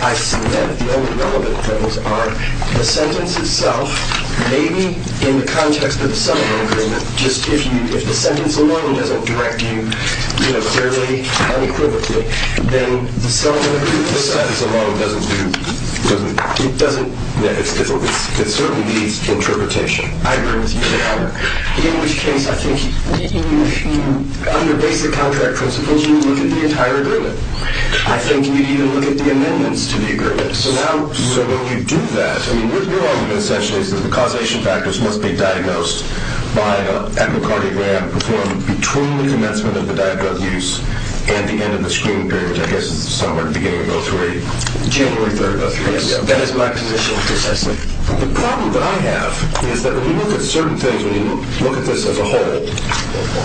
I see that the only relevant things are the sentence itself, maybe in the context of the settlement agreement, just if the sentence alone doesn't direct you fairly unequivocally, then the settlement agreement, the sentence alone doesn't do, it doesn't, it's difficult, it certainly needs interpretation. I agree with you on that. In which case, I think, under basic contract principles, you look at the entire agreement. I think you need to look at the amendments to the agreement. So now, so when you do that, I mean, your argument essentially is that the causation factors must be diagnosed by an echocardiogram performed between the commencement of the diet drug use and the end of the screening period, which I guess is somewhere at the beginning of 03, January 3rd of 03. That is my position, precisely. The problem that I have is that when you look at certain things, when you look at this as a whole,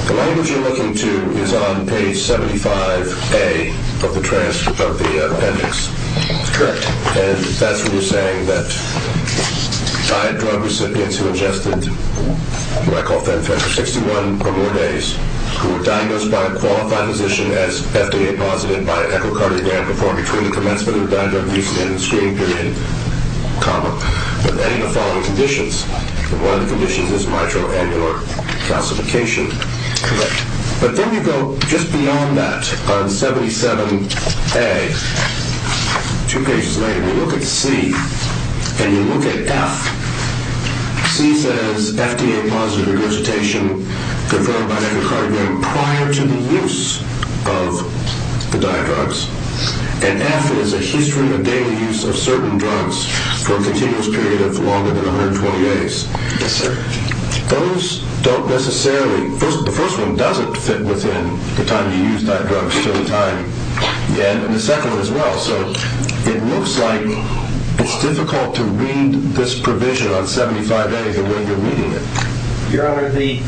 the language you're looking to is on page 75A of the appendix. That's correct. And that's when you're saying that diet drug recipients who adjusted, who I call FedFed for 61 or more days, who were diagnosed by a qualified physician as FDA positive by an echocardiogram performed between the commencement of diet drug use and the end of the screening period, comma, with any of the following conditions, and one of the conditions is mitoannular calcification. Correct. But then you go just beyond that on 77A, two pages later, you look at C and you look at F. C says FDA positive regurgitation performed by an echocardiogram prior to the use of the diet drugs, and F is a history of daily use of certain drugs for a continuous period of longer than 120 days. Yes, sir. Those don't necessarily, the first one doesn't fit within the time you use diet drugs to the time, and the second one as well, so it looks like it's difficult to read this provision on 75A the way you're reading it. Your Honor, the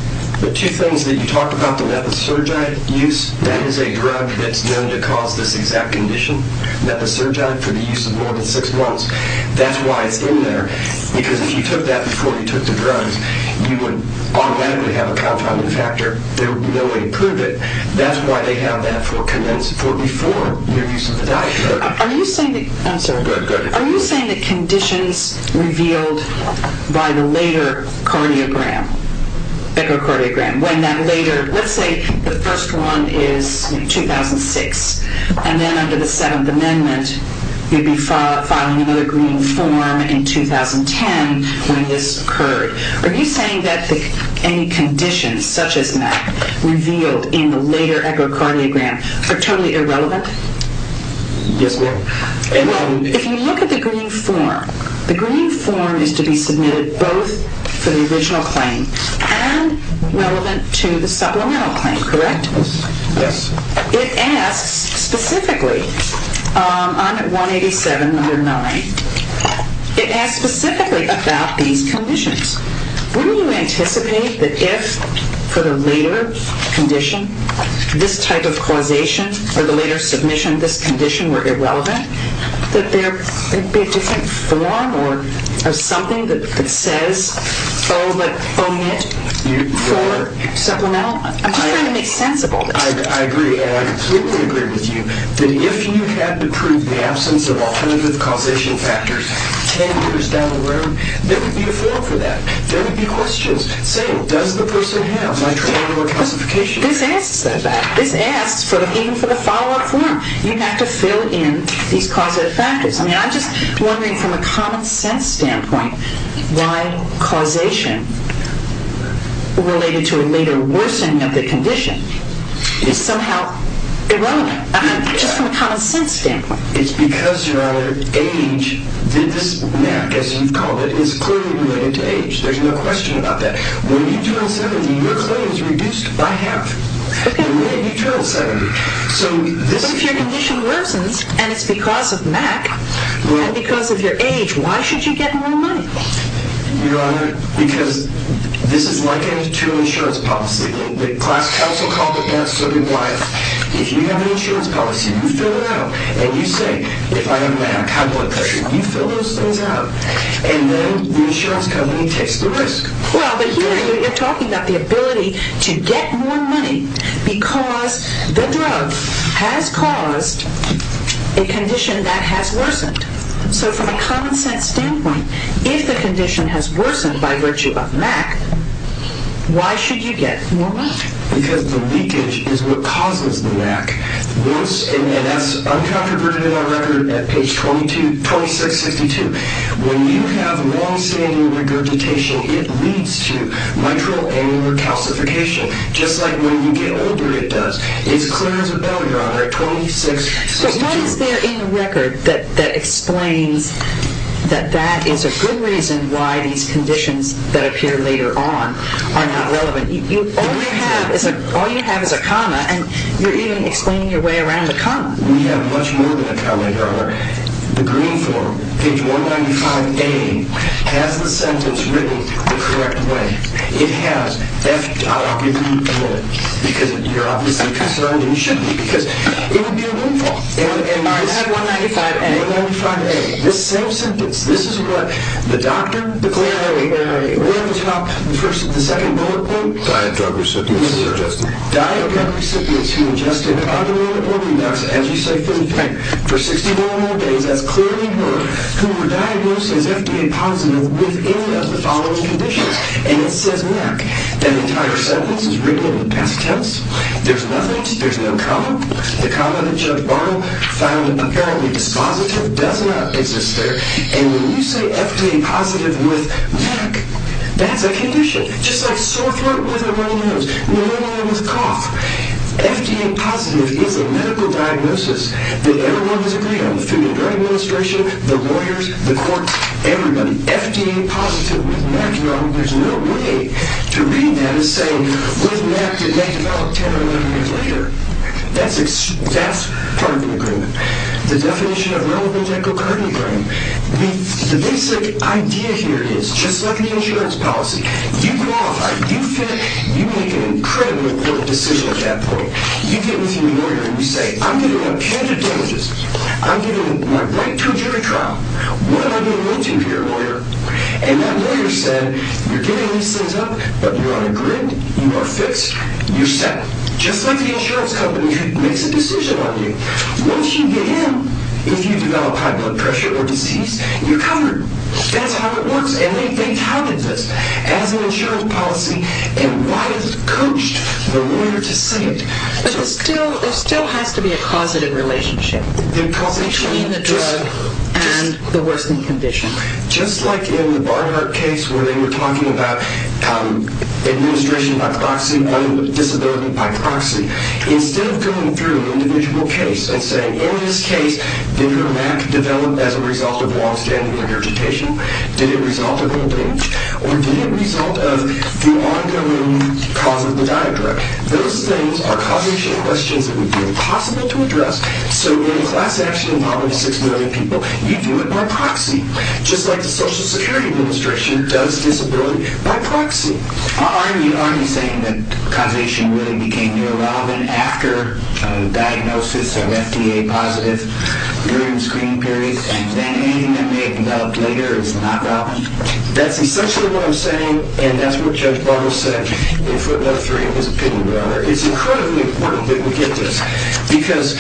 two things that you talked about, the methasergide use, that is a drug that's known to cause this exact condition, methasergide, for the use of more than six months. That's why it's in there, because if you took that before you took the drugs, you would automatically have a confounding factor. There would be no way to prove it. That's why they have that for before the use of the diet drug. Are you saying the conditions revealed by the later cardiogram, echocardiogram, when that later, let's say the first one is 2006, and then under the Seventh Amendment, you'd be filing another green form in 2010 when this occurred. Are you saying that any conditions such as that revealed in the later echocardiogram are totally irrelevant? Yes, ma'am. If you look at the green form, the green form is to be submitted both for the original claim and relevant to the supplemental claim, correct? Yes. It asks specifically, on 187 under 9, it asks specifically about these conditions. Wouldn't you anticipate that if, for the later condition, this type of causation, or the later submission of this condition were irrelevant, that there would be a different form or something that says, oh, but only for supplemental? I'm just trying to make sense of all this. I agree. And I completely agree with you that if you had to prove the absence of alternative causation factors 10 years down the road, there would be a form for that. There would be questions saying, does the person have nitrile or calcification? This asks that. This asks, even for the follow-up form, you'd have to fill in these causative factors. I mean, I'm just wondering, from a common sense standpoint, why causation related to the later worsening of the condition is somehow irrelevant, just from a common sense standpoint. It's because, Your Honor, age, this MAC, as you've called it, is clearly related to age. There's no question about that. When you do it in 70, your claim is reduced by half. OK. And then you travel 70. So this is true. But if your condition worsens, and it's because of MAC, and because of your age, why should you get more money? Your Honor, because this is like a true insurance policy. The class counsel called it that, so did Wyeth. If you have an insurance policy, you fill it out. And you say, if I have MAC, how do I pay? You fill those things out. And then the insurance company takes the risk. Well, but here you're talking about the ability to get more money because the drug has caused a condition that has worsened. So from a common sense standpoint, if the condition has worsened by virtue of MAC, why should you get more money? Because the leakage is what causes the MAC. And that's uncontroverted in our record at page 2662. When you have longstanding regurgitation, it leads to mitral annular calcification, just like when you get older it does. It's clear as a bell, Your Honor, 2662. So what is there in the record that explains that that is a good reason why these conditions that appear later on are not relevant? All you have is a comma, and you're even explaining your way around the comma. We have much more than a comma, Your Honor. The green form, page 195A, has the sentence written the correct way. I'll give you a minute. Because you're obviously concerned, and you shouldn't be, because it would be a green form. I have 195A. 195A. This same sentence. This is what the doctor declared earlier. We're at the top. The second bullet point. Diet drug recipients who ingested. Diet drug recipients who ingested undiluted organox, as you say, for 61 more days. That's clearly her. Who were diagnosed as FDA positive within the following conditions. And it says MAC. That entire sentence is written in the past tense. There's nothing. There's no comma. The comma that Judge Barham found apparently dispositive does not exist there. And when you say FDA positive with MAC, that's a condition, just like sore throat with a runny nose, pneumonia with cough. FDA positive is a medical diagnosis that everyone has agreed on. The Food and Drug Administration, the lawyers, the courts, everybody. When you say FDA positive with MAC, there's no way to read that as saying with MAC it may develop 10 or 11 years later. That's part of the agreement. The definition of reliable medical guardian agreement. The basic idea here is, just like the insurance policy, you go off. Are you fit? You make an incredibly important decision at that point. You get with your lawyer and you say, I'm getting a bunch of damages. I'm getting my right to a jury trial. What am I going to do here, lawyer? And that lawyer said, you're getting these things up, but you're on a grid. You are fixed. You're set. Just like the insurance company who makes a decision on you. Once you get in, if you develop high blood pressure or disease, you're covered. That's how it works. And they touted this. As an insurance policy, it widely coached the lawyer to say it. But there still has to be a causative relationship. Between the drug and the worsening condition. Just like in the Barnhart case where they were talking about administration by proxy and disability by proxy. Instead of going through an individual case and saying, in this case, did her MAC develop as a result of long-standing regurgitation? Did it result of old age? Or did it result of the ongoing cause of the diagram? Those things are causation questions that would be impossible to address. So in a class action involving 6 million people, you do it by proxy. Just like the Social Security Administration does disability by proxy. Are you saying that causation really became irrelevant after diagnosis of FDA-positive during the screening period, and then anything that may have developed later is not relevant? That's essentially what I'm saying, and that's what Judge Barber said in footnote 3. It's incredibly important that we get this. Because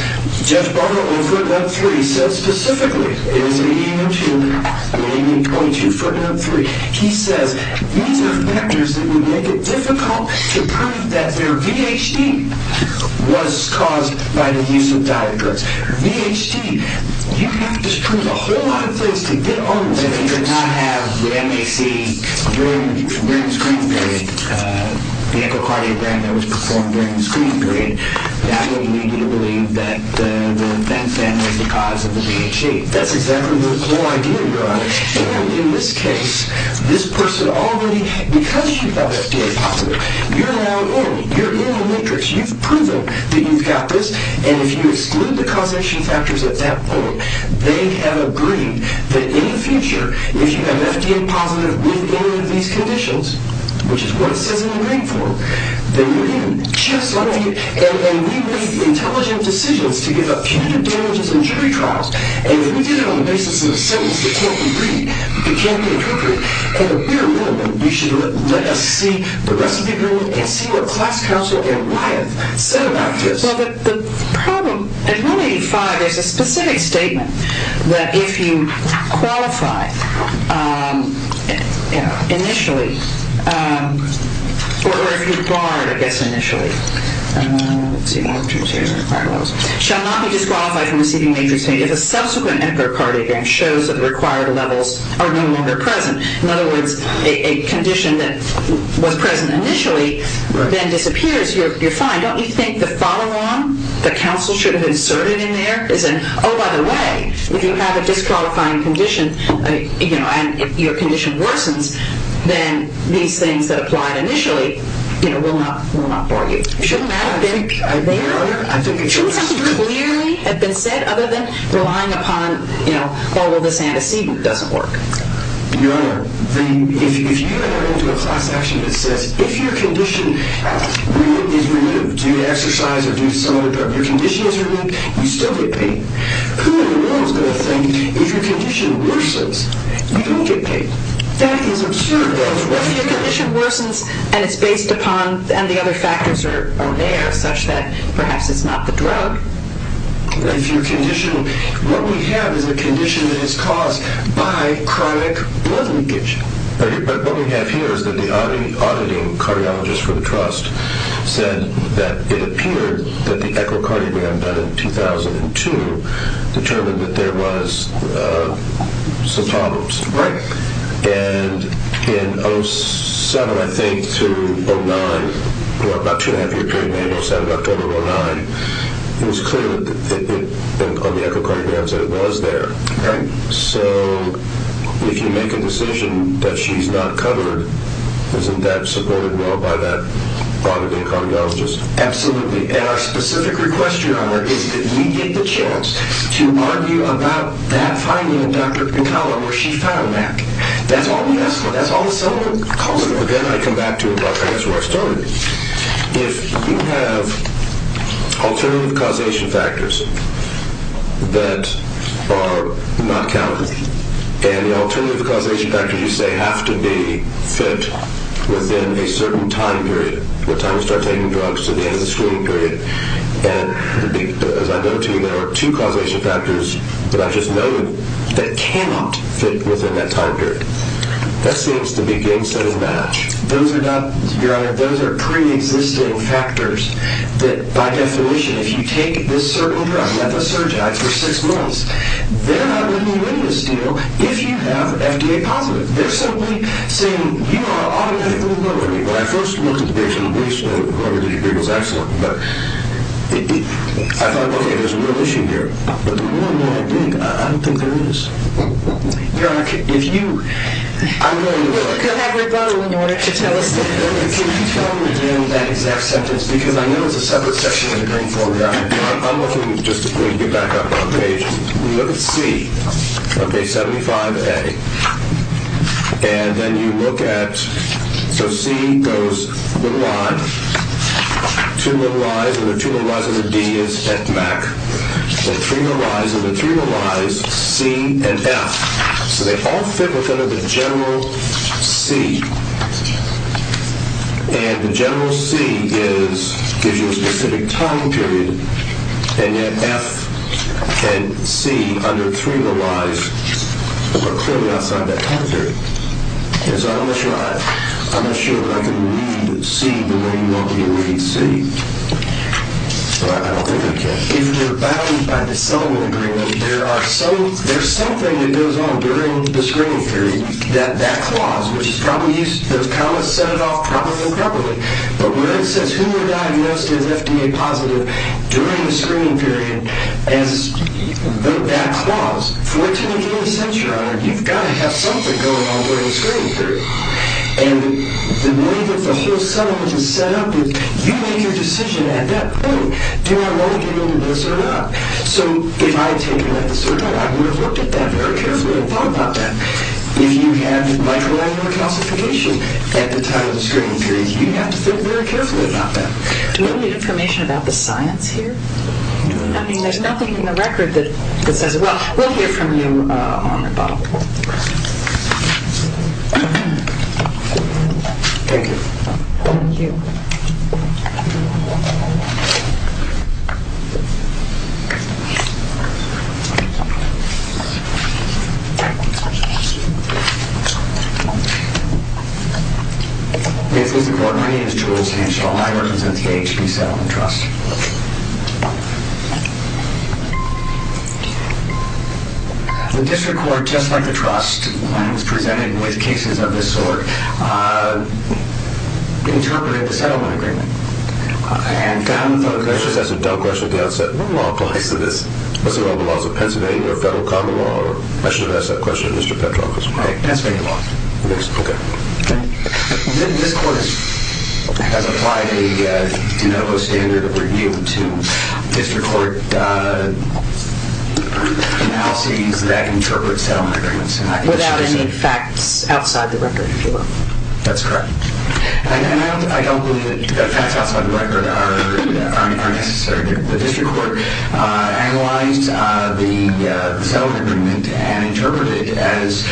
Judge Barber, in footnote 3, said specifically, in his reading in 2, reading in .2, footnote 3, he says these are factors that would make it difficult to prove that their VHD was caused by the use of diagrams. VHD, you have to prove a whole lot of things to get on with this. If you did not have the MAC during the screening period, the echocardiogram that was performed during the screening period, that would lead you to believe that the event then was the cause of the VHD. That's exactly the whole idea, Your Honor. And in this case, this person already, because you've got FDA-positive, you're now in, you're in the matrix. You've proven that you've got this, and if you exclude the causation factors at that point, they have agreed that in the future, if you have FDA-positive within any of these conditions, which is what it says in the rank form, then you're in, just like me, and then we made the intelligent decisions to give up punitive damages and jury trials, and then we did it on the basis of a sentence that can't be read, that can't be interpreted, and we're in, and we should let us see the rest of the agreement and see what Class Counsel and Wyeth said about this. Well, the problem at 185, there's a specific statement that if you qualify initially, or if you barred, I guess, initially, shall not be disqualified from receiving the agency if a subsequent emperor cardiogram shows that the required levels are no longer present. In other words, a condition that was present initially then disappears, you're fine. Don't you think the follow-on that counsel should have inserted in there is an, oh, by the way, if you have a disqualifying condition, and your condition worsens, then these things that apply initially will not bar you. Shouldn't that have been there? Shouldn't something clearly have been said other than relying upon, oh, well, this antecedent doesn't work? Your Honor, if you have entered into a class action that says, if your condition is removed due to exercise or due to some other drug, your condition is removed, you still get paid. Who in the world is going to think if your condition worsens, you don't get paid? That is absurd. If your condition worsens and it's based upon, and the other factors are there such that perhaps it's not the drug. If your condition, what we have is a condition that is caused by chronic blood leakage. But what we have here is that the auditing cardiologist for the trust said that it appeared that the echocardiogram done in 2002 determined that there was some problems. Right. And in 07, I think, to 09, about two and a half year period, maybe 07, October 09, it was clear on the echocardiograms that it was there. Right. So if you make a decision that she's not covered, isn't that supported, though, by that auditing cardiologist? Absolutely. And our specific request to you, Howard, is that we get the chance to argue about that finding in Dr. McCullough where she found that. That's all we ask for. That's all someone calls for. But then I come back to it, but that's where I started. If you have alternative causation factors that are not countable, and the alternative causation factors you say have to be fit within a certain time period, the time you start taking drugs to the end of the screening period, and as I go to you, there are two causation factors that I just know of that cannot fit within that time period, that seems to be game-setting math. Those are not, Your Honor, those are pre-existing factors that, by definition, if you take this certain drug, methaserginide, for six months, they're not going to give you any of the steel if you have FDA-positive. They're simply saying, you know what, I'll give you a little bit of money. When I first looked at the patient, at least whoever did it was excellent, but I thought, okay, there's a real issue here. But the more and more I dig, I don't think there is. Your Honor, if you, I'm going to... We'll cut everybody in order to tell us the difference. Can you tell me again that exact sentence? Because I know it's a separate section of the game for me. I'm looking, just to get back up on page, when you look at C, okay, 75A, and then you look at, so C goes little i, two little i's, and the two little i's of the D is FMAC, and three little i's, and the three little i's, C and F. So they all fit within the general C. And the general C gives you a specific time period, and yet F and C, under three little i's, are clearly outside that time period. So I'm not sure I can read C the way you want me to read C. But I don't think I can. If you're bound by the settlement agreement, there's something that goes on during the screening period that that clause, which is probably used, that's kind of set it off properly and properly, but when it says who were diagnosed as FDA positive during the screening period, that clause, for it to make any sense, Your Honor, you've got to have something going on during the screening period. And the way that the whole settlement is set up is you make your decision at that point, do I want to get into this or not? So if I had taken that decision, I would have looked at that very carefully and thought about that. If you have micro-annular calcification at the time of the screening period, you have to think very carefully about that. Do we need information about the science here? I mean, there's nothing in the record that says... Well, we'll hear from you, Your Honor, Bob. Thank you. Thank you. Yes, Mr. Court. My name is Jules Hanshaw. I represent the AHP Settlement Trust. The district court, just like the trust, when it was presented with cases of this sort, interpreted the settlement agreement. And... Let me just ask a dumb question at the outset. What law applies to this? What's the law? Is it Pennsylvania or federal common law? I should have asked that question to Mr. Petrov. Pennsylvania law. Okay. This court has applied a de novo standard of review to district court analyses that interpret settlement agreements. Without any facts outside the record, if you will. That's correct. And I don't believe that facts outside the record are necessary. The district court analyzed the settlement agreement and interpreted it as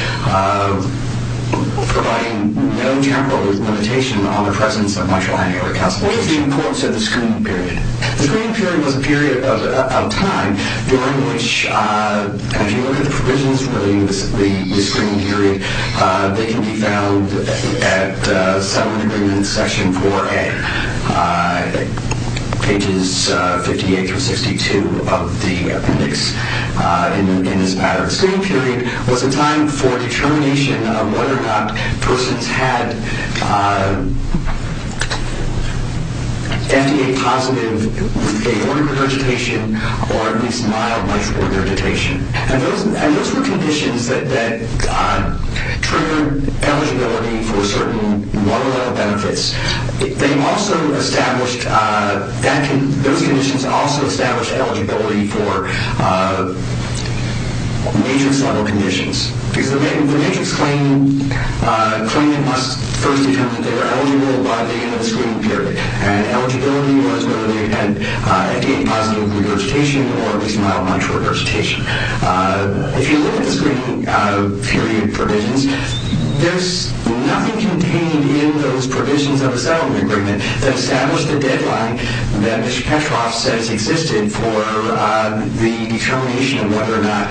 providing no general limitation on the presence of much higher recalculation. What is the importance of the screening period? The screening period was a period of time during which, if you look at the provisions relating to the screening period, they can be found at settlement agreement section 4A, pages 58 through 62 of the appendix in this matter. The screening period was a time for determination of whether or not persons had FDA-positive, with a lower regurgitation, or at least mild, much lower regurgitation. And those were conditions that triggered eligibility for certain more or less benefits. Those conditions also established eligibility for matrix-level conditions. Because the matrix claimant must first determine that they were eligible by the end of the screening period. And eligibility was whether they had FDA-positive regurgitation or at least mild, much regurgitation. If you look at the screening period provisions, there's nothing contained in those provisions of the settlement agreement that established the deadline that Mr. Petroff says existed for the determination of whether or not,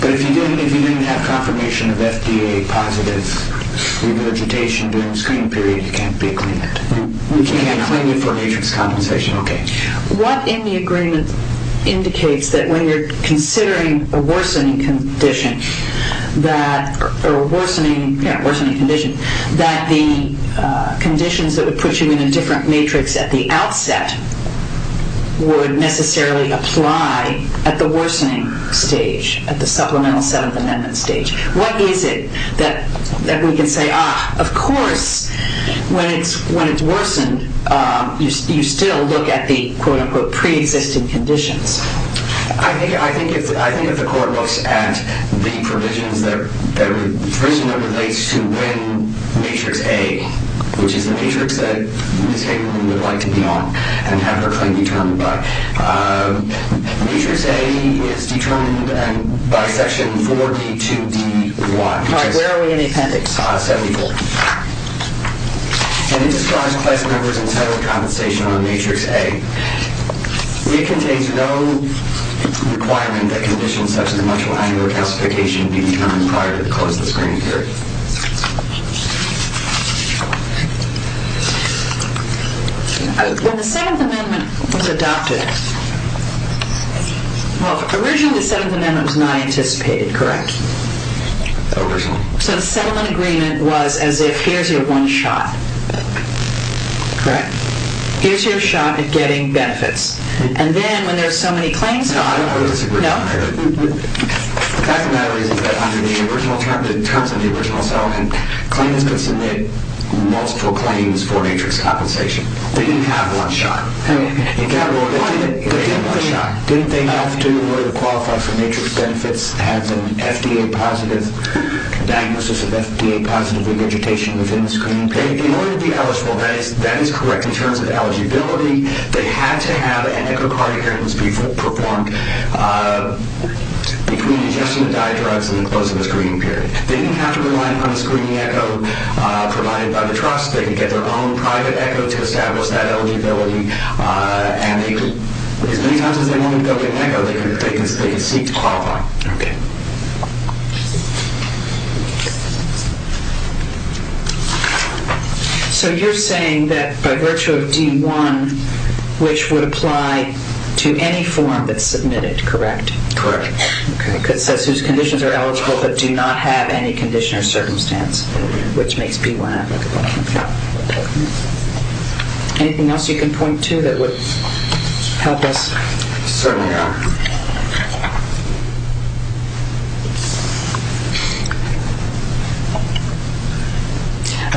but if you didn't have confirmation of FDA-positive regurgitation during the screening period, you can't be a claimant. You can't claim it for matrix compensation. What in the agreement indicates that when you're considering a worsening condition, or a worsening condition, that the conditions that would put you in a different matrix at the outset would necessarily apply at the worsening stage, at the supplemental 7th Amendment stage? What is it that we can say, ah, of course, when it's worsened, you still look at the, quote-unquote, pre-existing conditions? I think if the court looks at the provisions that, first of all, relates to when matrix A, which is the matrix that Ms. Hagelin would like to be on and have her claim determined by. Matrix A is determined by section 4D2D1. All right, where are we in the appendix? 74. And it describes class members and settlement compensation on matrix A. It contains no requirement that conditions such as a mutual annual justification be determined prior to the close of the screening period. When the 7th Amendment was adopted, well, originally the 7th Amendment was not anticipated, correct? Originally. So the settlement agreement was as if, here's your one shot. Correct. Here's your shot at getting benefits. And then when there's so many claims... No, I don't disagree. The fact of the matter is that under the original term, the terms of the original settlement, claimants could submit multiple claims for matrix compensation. They didn't have one shot. Didn't they have to, in order to qualify for matrix benefits, have an FDA-positive diagnosis of FDA-positive regurgitation within the screening period? In order to be eligible, that is correct. In terms of eligibility, they had to have an echocardiogram performed between ingestion of diadrugs and the close of the screening period. They didn't have to rely upon the screening echo provided by the trust. They could get their own private echo to establish that eligibility. And as many times as they wanted to go get an echo, they could seek to qualify. Okay. So you're saying that by virtue of D1, which would apply to any form that's submitted, correct? Correct. Okay, because it says whose conditions are eligible but do not have any condition or circumstance, which makes B1 applicable. Anything else you can point to that would help us? Certainly not.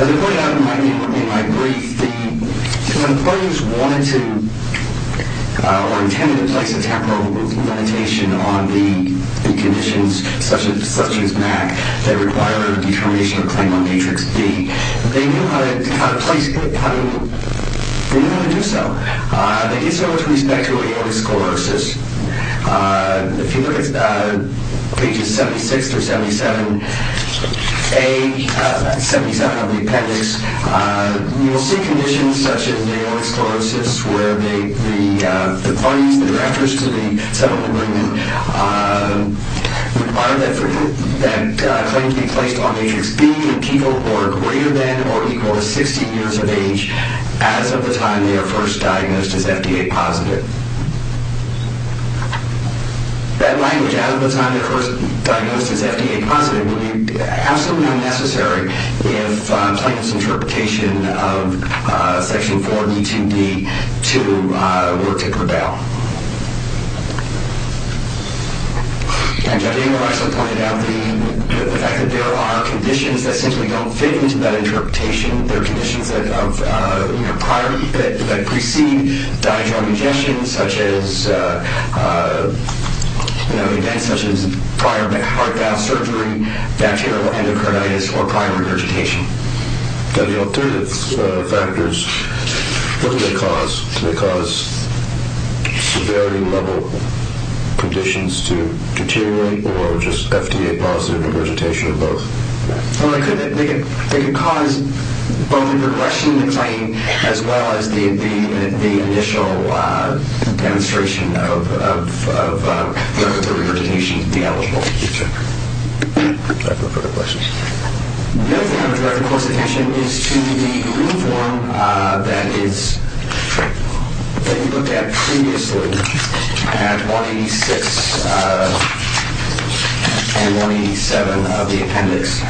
Okay. As I pointed out in my brief, the employees wanted to or intended to place a temporal limitation on the conditions, such as MAC, that require a determination or claim on matrix B. They knew how to place it. They knew how to do so. They did so with respect to aortic sclerosis. If you look at pages 76 through 77A, that's 77 on the appendix, you will see conditions such as aortic sclerosis where the parties, the directors to the settlement agreement, require that claim to be placed on matrix B as of the time they are first diagnosed as FDA-positive. That language, as of the time they're first diagnosed as FDA-positive, would be absolutely unnecessary if Plankton's interpretation of Section 4B2B2 were to prevail. And Javier also pointed out the fact that there are conditions that simply don't fit into that interpretation. There are conditions that precede diagnostic injections such as prior heart valve surgery, bacterial endocarditis, or prior regurgitation. The alternative factors, what do they cause? Do they cause severity-level conditions to deteriorate or just FDA-positive regurgitation of both? They could cause bone regression in the claim as well as the initial demonstration of the regurgitation to be eligible. Thank you, sir. No further questions. The other thing I would like to close the session is to the rule form that you looked at previously at 186 and 187 of the appendix.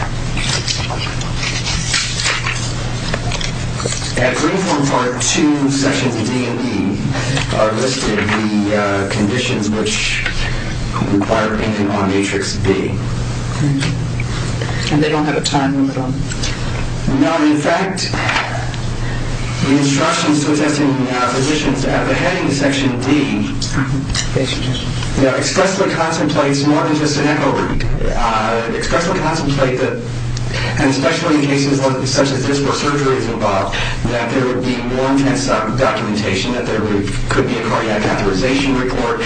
At rule form part 2, sections D and E are listed as the conditions which require an end on matrix B. And they don't have a time limit on them? No, in fact, the instructions to assessing physicians at the heading of section D expressly contemplates more than just an echo. It expressly contemplates that, and especially in cases such as this where surgery is involved, that there would be more intensive documentation that there could be a cardiac catheterization report.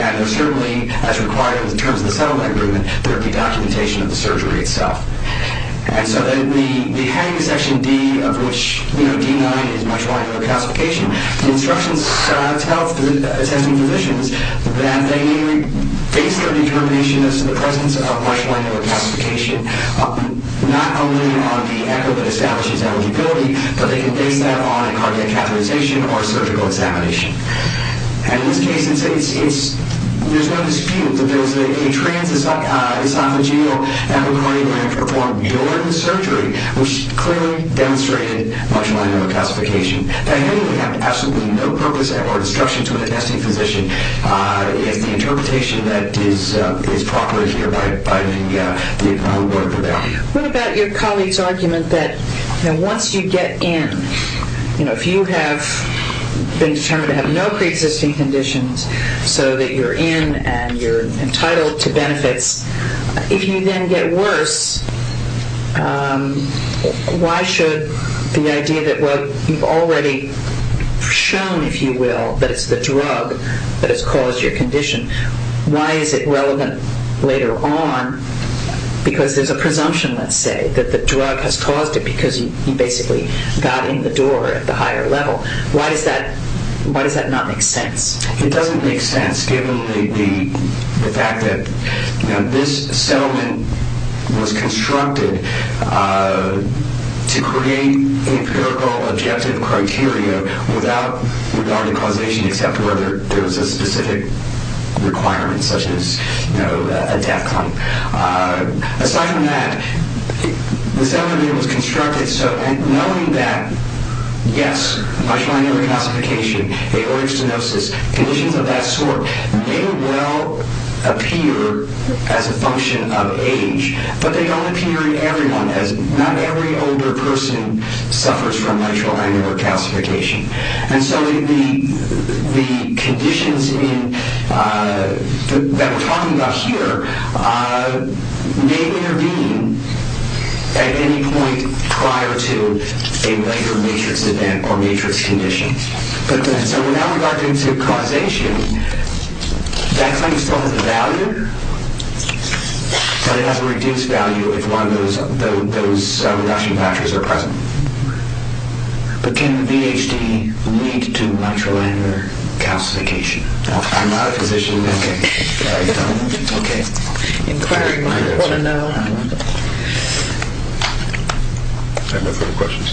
And certainly, as required in the terms of the settlement agreement, there would be documentation of the surgery itself. And so then the heading of section D, of which D9 is much-milder calcification, the instructions tell assessing physicians that they base their determination as to the presence of much-milder calcification not only on the echo that establishes eligibility, but they can base that on a cardiac catheterization or surgical examination. And in this case, there's no dispute that there's a transesophageal echocardiogram performed during the surgery, which clearly demonstrated much-milder calcification. That heading would have absolutely no purpose or instruction to an assessing physician is the interpretation that is properly here by the homework for them. What about your colleague's argument that once you get in, if you have been determined to have no preexisting conditions so that you're in and you're entitled to benefits, if you then get worse, why should the idea that what you've already shown, if you will, that it's the drug that has caused your condition, why is it relevant later on? Because there's a presumption, let's say, that the drug has caused it because you basically got in the door at the higher level. Why does that not make sense? It doesn't make sense, given the fact that this settlement was constructed to create empirical objective criteria without regarding causation except whether there was a specific requirement, such as a death claim. Aside from that, the settlement was constructed so, and knowing that, yes, mitral angular calcification, aortic stenosis, conditions of that sort, may well appear as a function of age, but they don't appear in everyone, as not every older person suffers from mitral angular calcification. And so the conditions that we're talking about here may intervene at any point prior to a major matrix event or matrix condition. So without regard to causation, that claim still has value, but it has a reduced value if one of those reduction factors are present. But can VHD lead to mitral angular calcification? I'm not a physician. Okay. Inquiry. I just want to know. I have no further questions.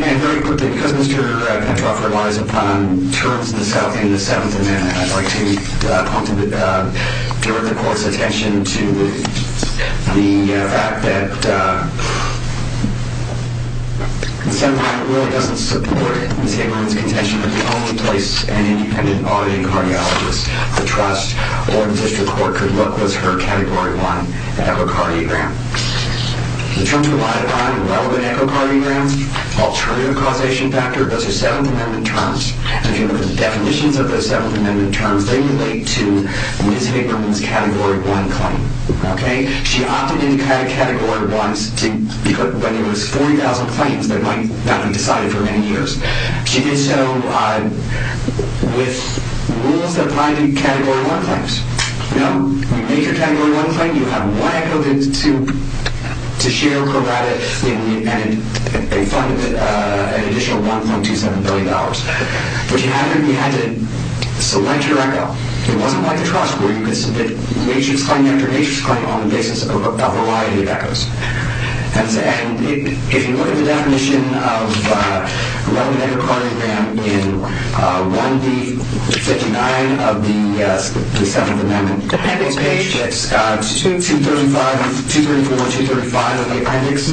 Very quickly, because Mr. Petroff relies upon terms of the South in the 7th Amendment, I'd like to direct the Court's attention to the fact that the 7th Amendment really doesn't support Ms. Hamerman's contention that the only place an independent auditing cardiologist could trust or the district court could look was her Category 1 echocardiogram. The terms relied upon in relevant echocardiograms, alternative causation factor, those are 7th Amendment terms, and if you look at the definitions of those 7th Amendment terms, they relate to Ms. Hamerman's Category 1 claim. She opted into Category 1s when there was 40,000 claims that might not be decided for many years. She did so with rules that provided Category 1 claims. You know, you make your Category 1 claim, you have one echocardiogram to share, provide it, and they funded it an additional $1.27 billion. But you had to select your echo. It wasn't like the trust where you could submit matrix claim after matrix claim on the basis of a variety of echoes. And if you look at the definition of relevant echocardiogram in 1D59 of the 7th Amendment appendix page, it's 234-235 of the appendix.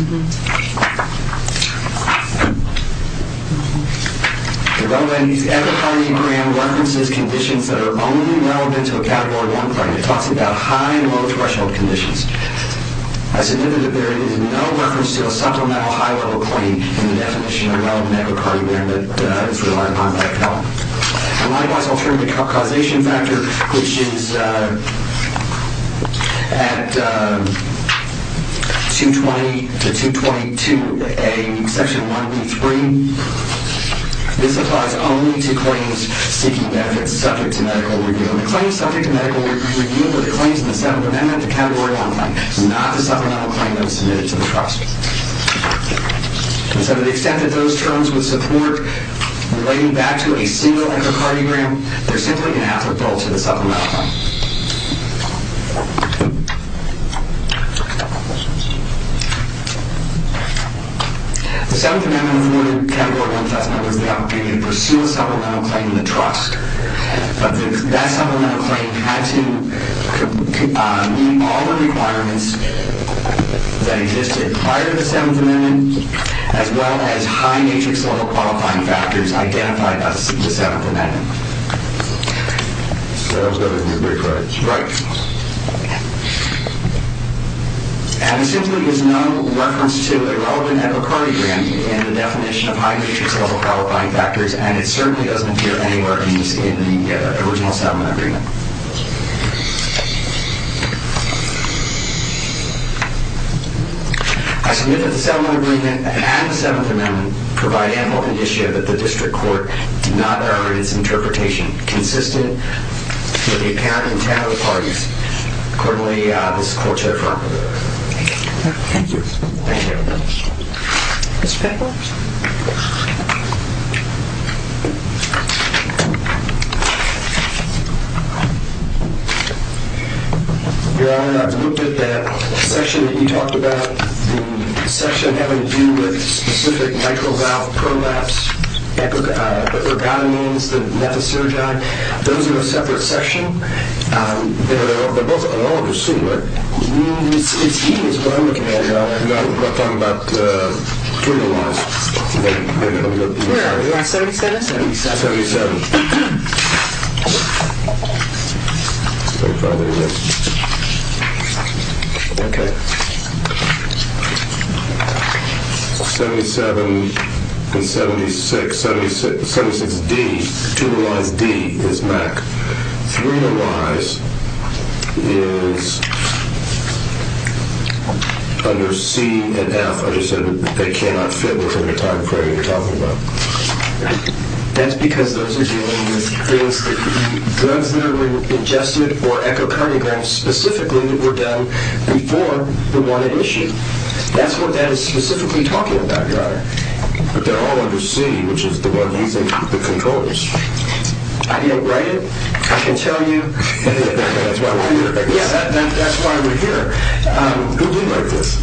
The relevant echocardiogram references conditions that are only relevant to a Category 1 claim. It talks about high and low threshold conditions. I submitted that there is no reference to a supplemental high-level claim in the definition of a relevant echocardiogram that is reliant on echo. And likewise, alternative causation factor, which is at 220-222A, Section 1B3, this applies only to claims seeking benefits subject to medical review. And the claims subject to medical review are the claims in the 7th Amendment to Category 1 claims, not the supplemental claim that was submitted to the trust. So to the extent that those terms would support relating back to a single echocardiogram, they're simply going to have to fall to the supplemental one. The 7th Amendment avoided Category 1 test numbers without being able to pursue a supplemental claim in the trust. But that supplemental claim had to meet all the requirements that existed prior to the 7th Amendment, as well as high matrix-level qualifying factors identified as the 7th Amendment. And there simply is no reference to a relevant echocardiogram in the definition of high matrix-level qualifying factors, and it certainly doesn't appear anywhere in the original 7th Amendment. I submit that the 7th Amendment and the 7th Amendment provide ample indicia that the District Court did not err in its interpretation, consistent with the account and intent of the parties. Accordingly, this Court shall affirm. Thank you. Thank you. Mr. Pickles? Your Honor, I've looked at that section that you talked about, the section having to do with specific nitrile valve prolapse, echocardiograms, the metasterogy. Those are a separate section. They're both analogous to it. It is what I'm looking at, Your Honor. No, I'm talking about thrombolysis. Where? 77? 77. 77 and 76. 76 is D. Thrombolysis D is back. Three of the Ys is under C and F. I just said that they cannot fit within the time frame you're talking about. That's because those are dealing with drugs that are ingested, or echocardiograms specifically that were done before the one at issue. That's what that is specifically talking about, Your Honor. But they're all under C, which is the one using the controllers. I didn't write it. I can tell you. That's why we're here. Who did write this?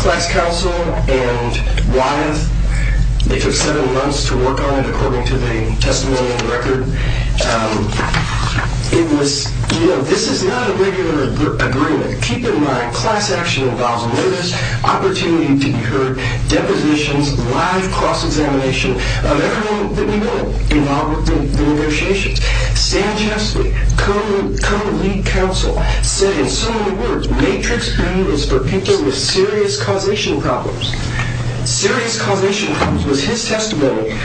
Class Counsel and Wyeth. They took seven months to work on it, according to the testimony in the record. This is not a regular agreement. Keep in mind, class action involves notice, opportunity to be heard, depositions, live cross-examination of everyone that we know involved in the negotiations. Sam Chesley, co-lead counsel, said in similar words, Matrix D is for people with serious causation problems. Serious causation problems was his testimony.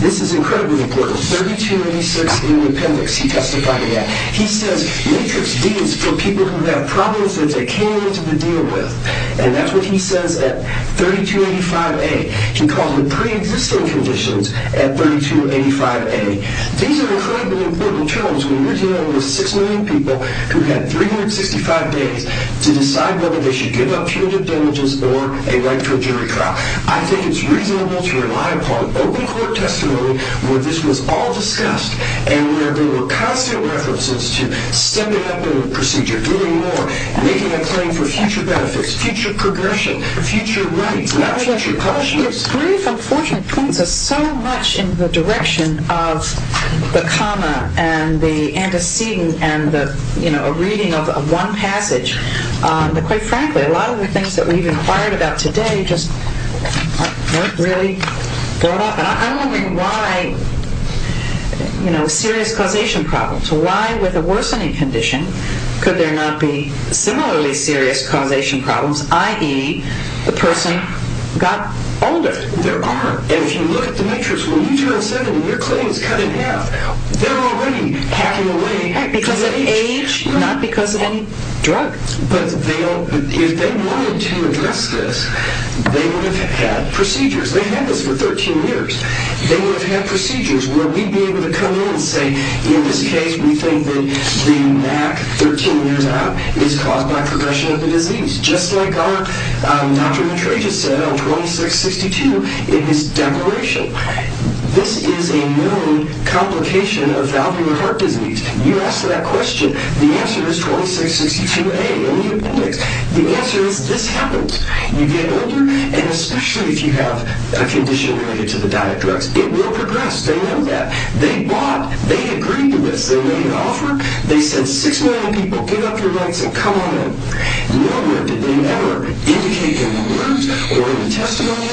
This is incredibly important. 3286 in the appendix, he testified to that. He says Matrix D is for people who have problems that they can't get into the deal with. And that's what he says at 3285A. He calls them pre-existing conditions at 3285A. These are incredibly important terms when you're dealing with 6 million people who've had 365 days to decide whether they should give up punitive damages or a right to a jury trial. I think it's reasonable to rely upon open court testimony where this was all discussed and where there were constant references to stemming up a procedure, doing more, making a claim for future benefits, future progression, future rights, not future punishments. Your brief, unfortunately, points us so much in the direction of the comma and the antecedent and the reading of one passage that, quite frankly, a lot of the things that we've inquired about today just aren't really brought up. And I'm wondering why, you know, serious causation problems, why with a worsening condition could there not be similarly serious causation problems, i.e., the person got older. There aren't. And if you look at the matrix, when you turn 70, your claim is cut in half. They're already hacking away. Because of age, not because of any drug. But if they wanted to address this, they would have had procedures. They had this for 13 years. They would have had procedures where we'd be able to come in and say, in this case, we think that the MAC 13 years out is caused by progression of the disease. Just like Dr. Matreja said on 2662 in his declaration. This is a known complication of valvular heart disease. You ask that question, the answer is 2662A in the appendix. The answer is this happens. You get older, and especially if you have a condition related to the diet drugs, it will progress. They know that. They bought. They agreed to this. They made an offer. They said, 6 million people, give up your rights and come on in. Nowhere did they ever indicate that in words or in a testimony.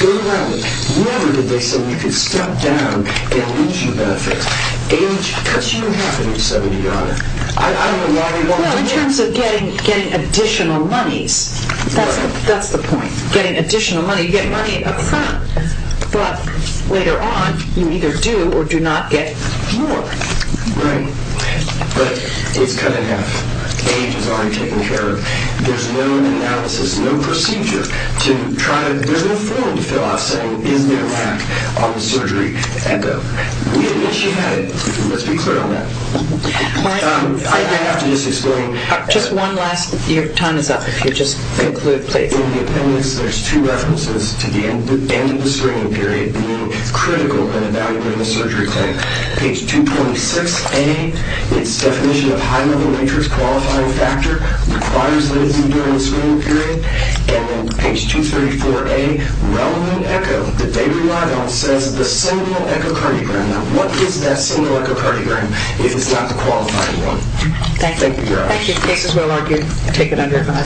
Go around it. Never did they say we could step down and issue benefits. Age cuts you in half when you're 70, Your Honor. I don't know why we want to do this. Well, in terms of getting additional monies, that's the point. Getting additional money. You get money up front. But later on, you either do or do not get more. Right. But it's cut in half. Age is already taken care of. There's no analysis, no procedure to try to, there's no form to fill out saying, Is there a lack of surgery? Echo. We admit she had it. Let's be clear on that. I have to just explain. Just one last, your time is up. If you'll just conclude, please. In the appendix, there's two references to the end of the screening period being critical in evaluating a surgery claim. Page 226A, its definition of high-level matrix qualifying factor, requires that it's in during the screening period. And then page 234A, relevant echo that they relied on says the single echocardiogram. Now, what is that single echocardiogram if it's not the qualifying one? Thank you. Thank you, Your Honor. Thank you. The case is well argued. Take it under investigation.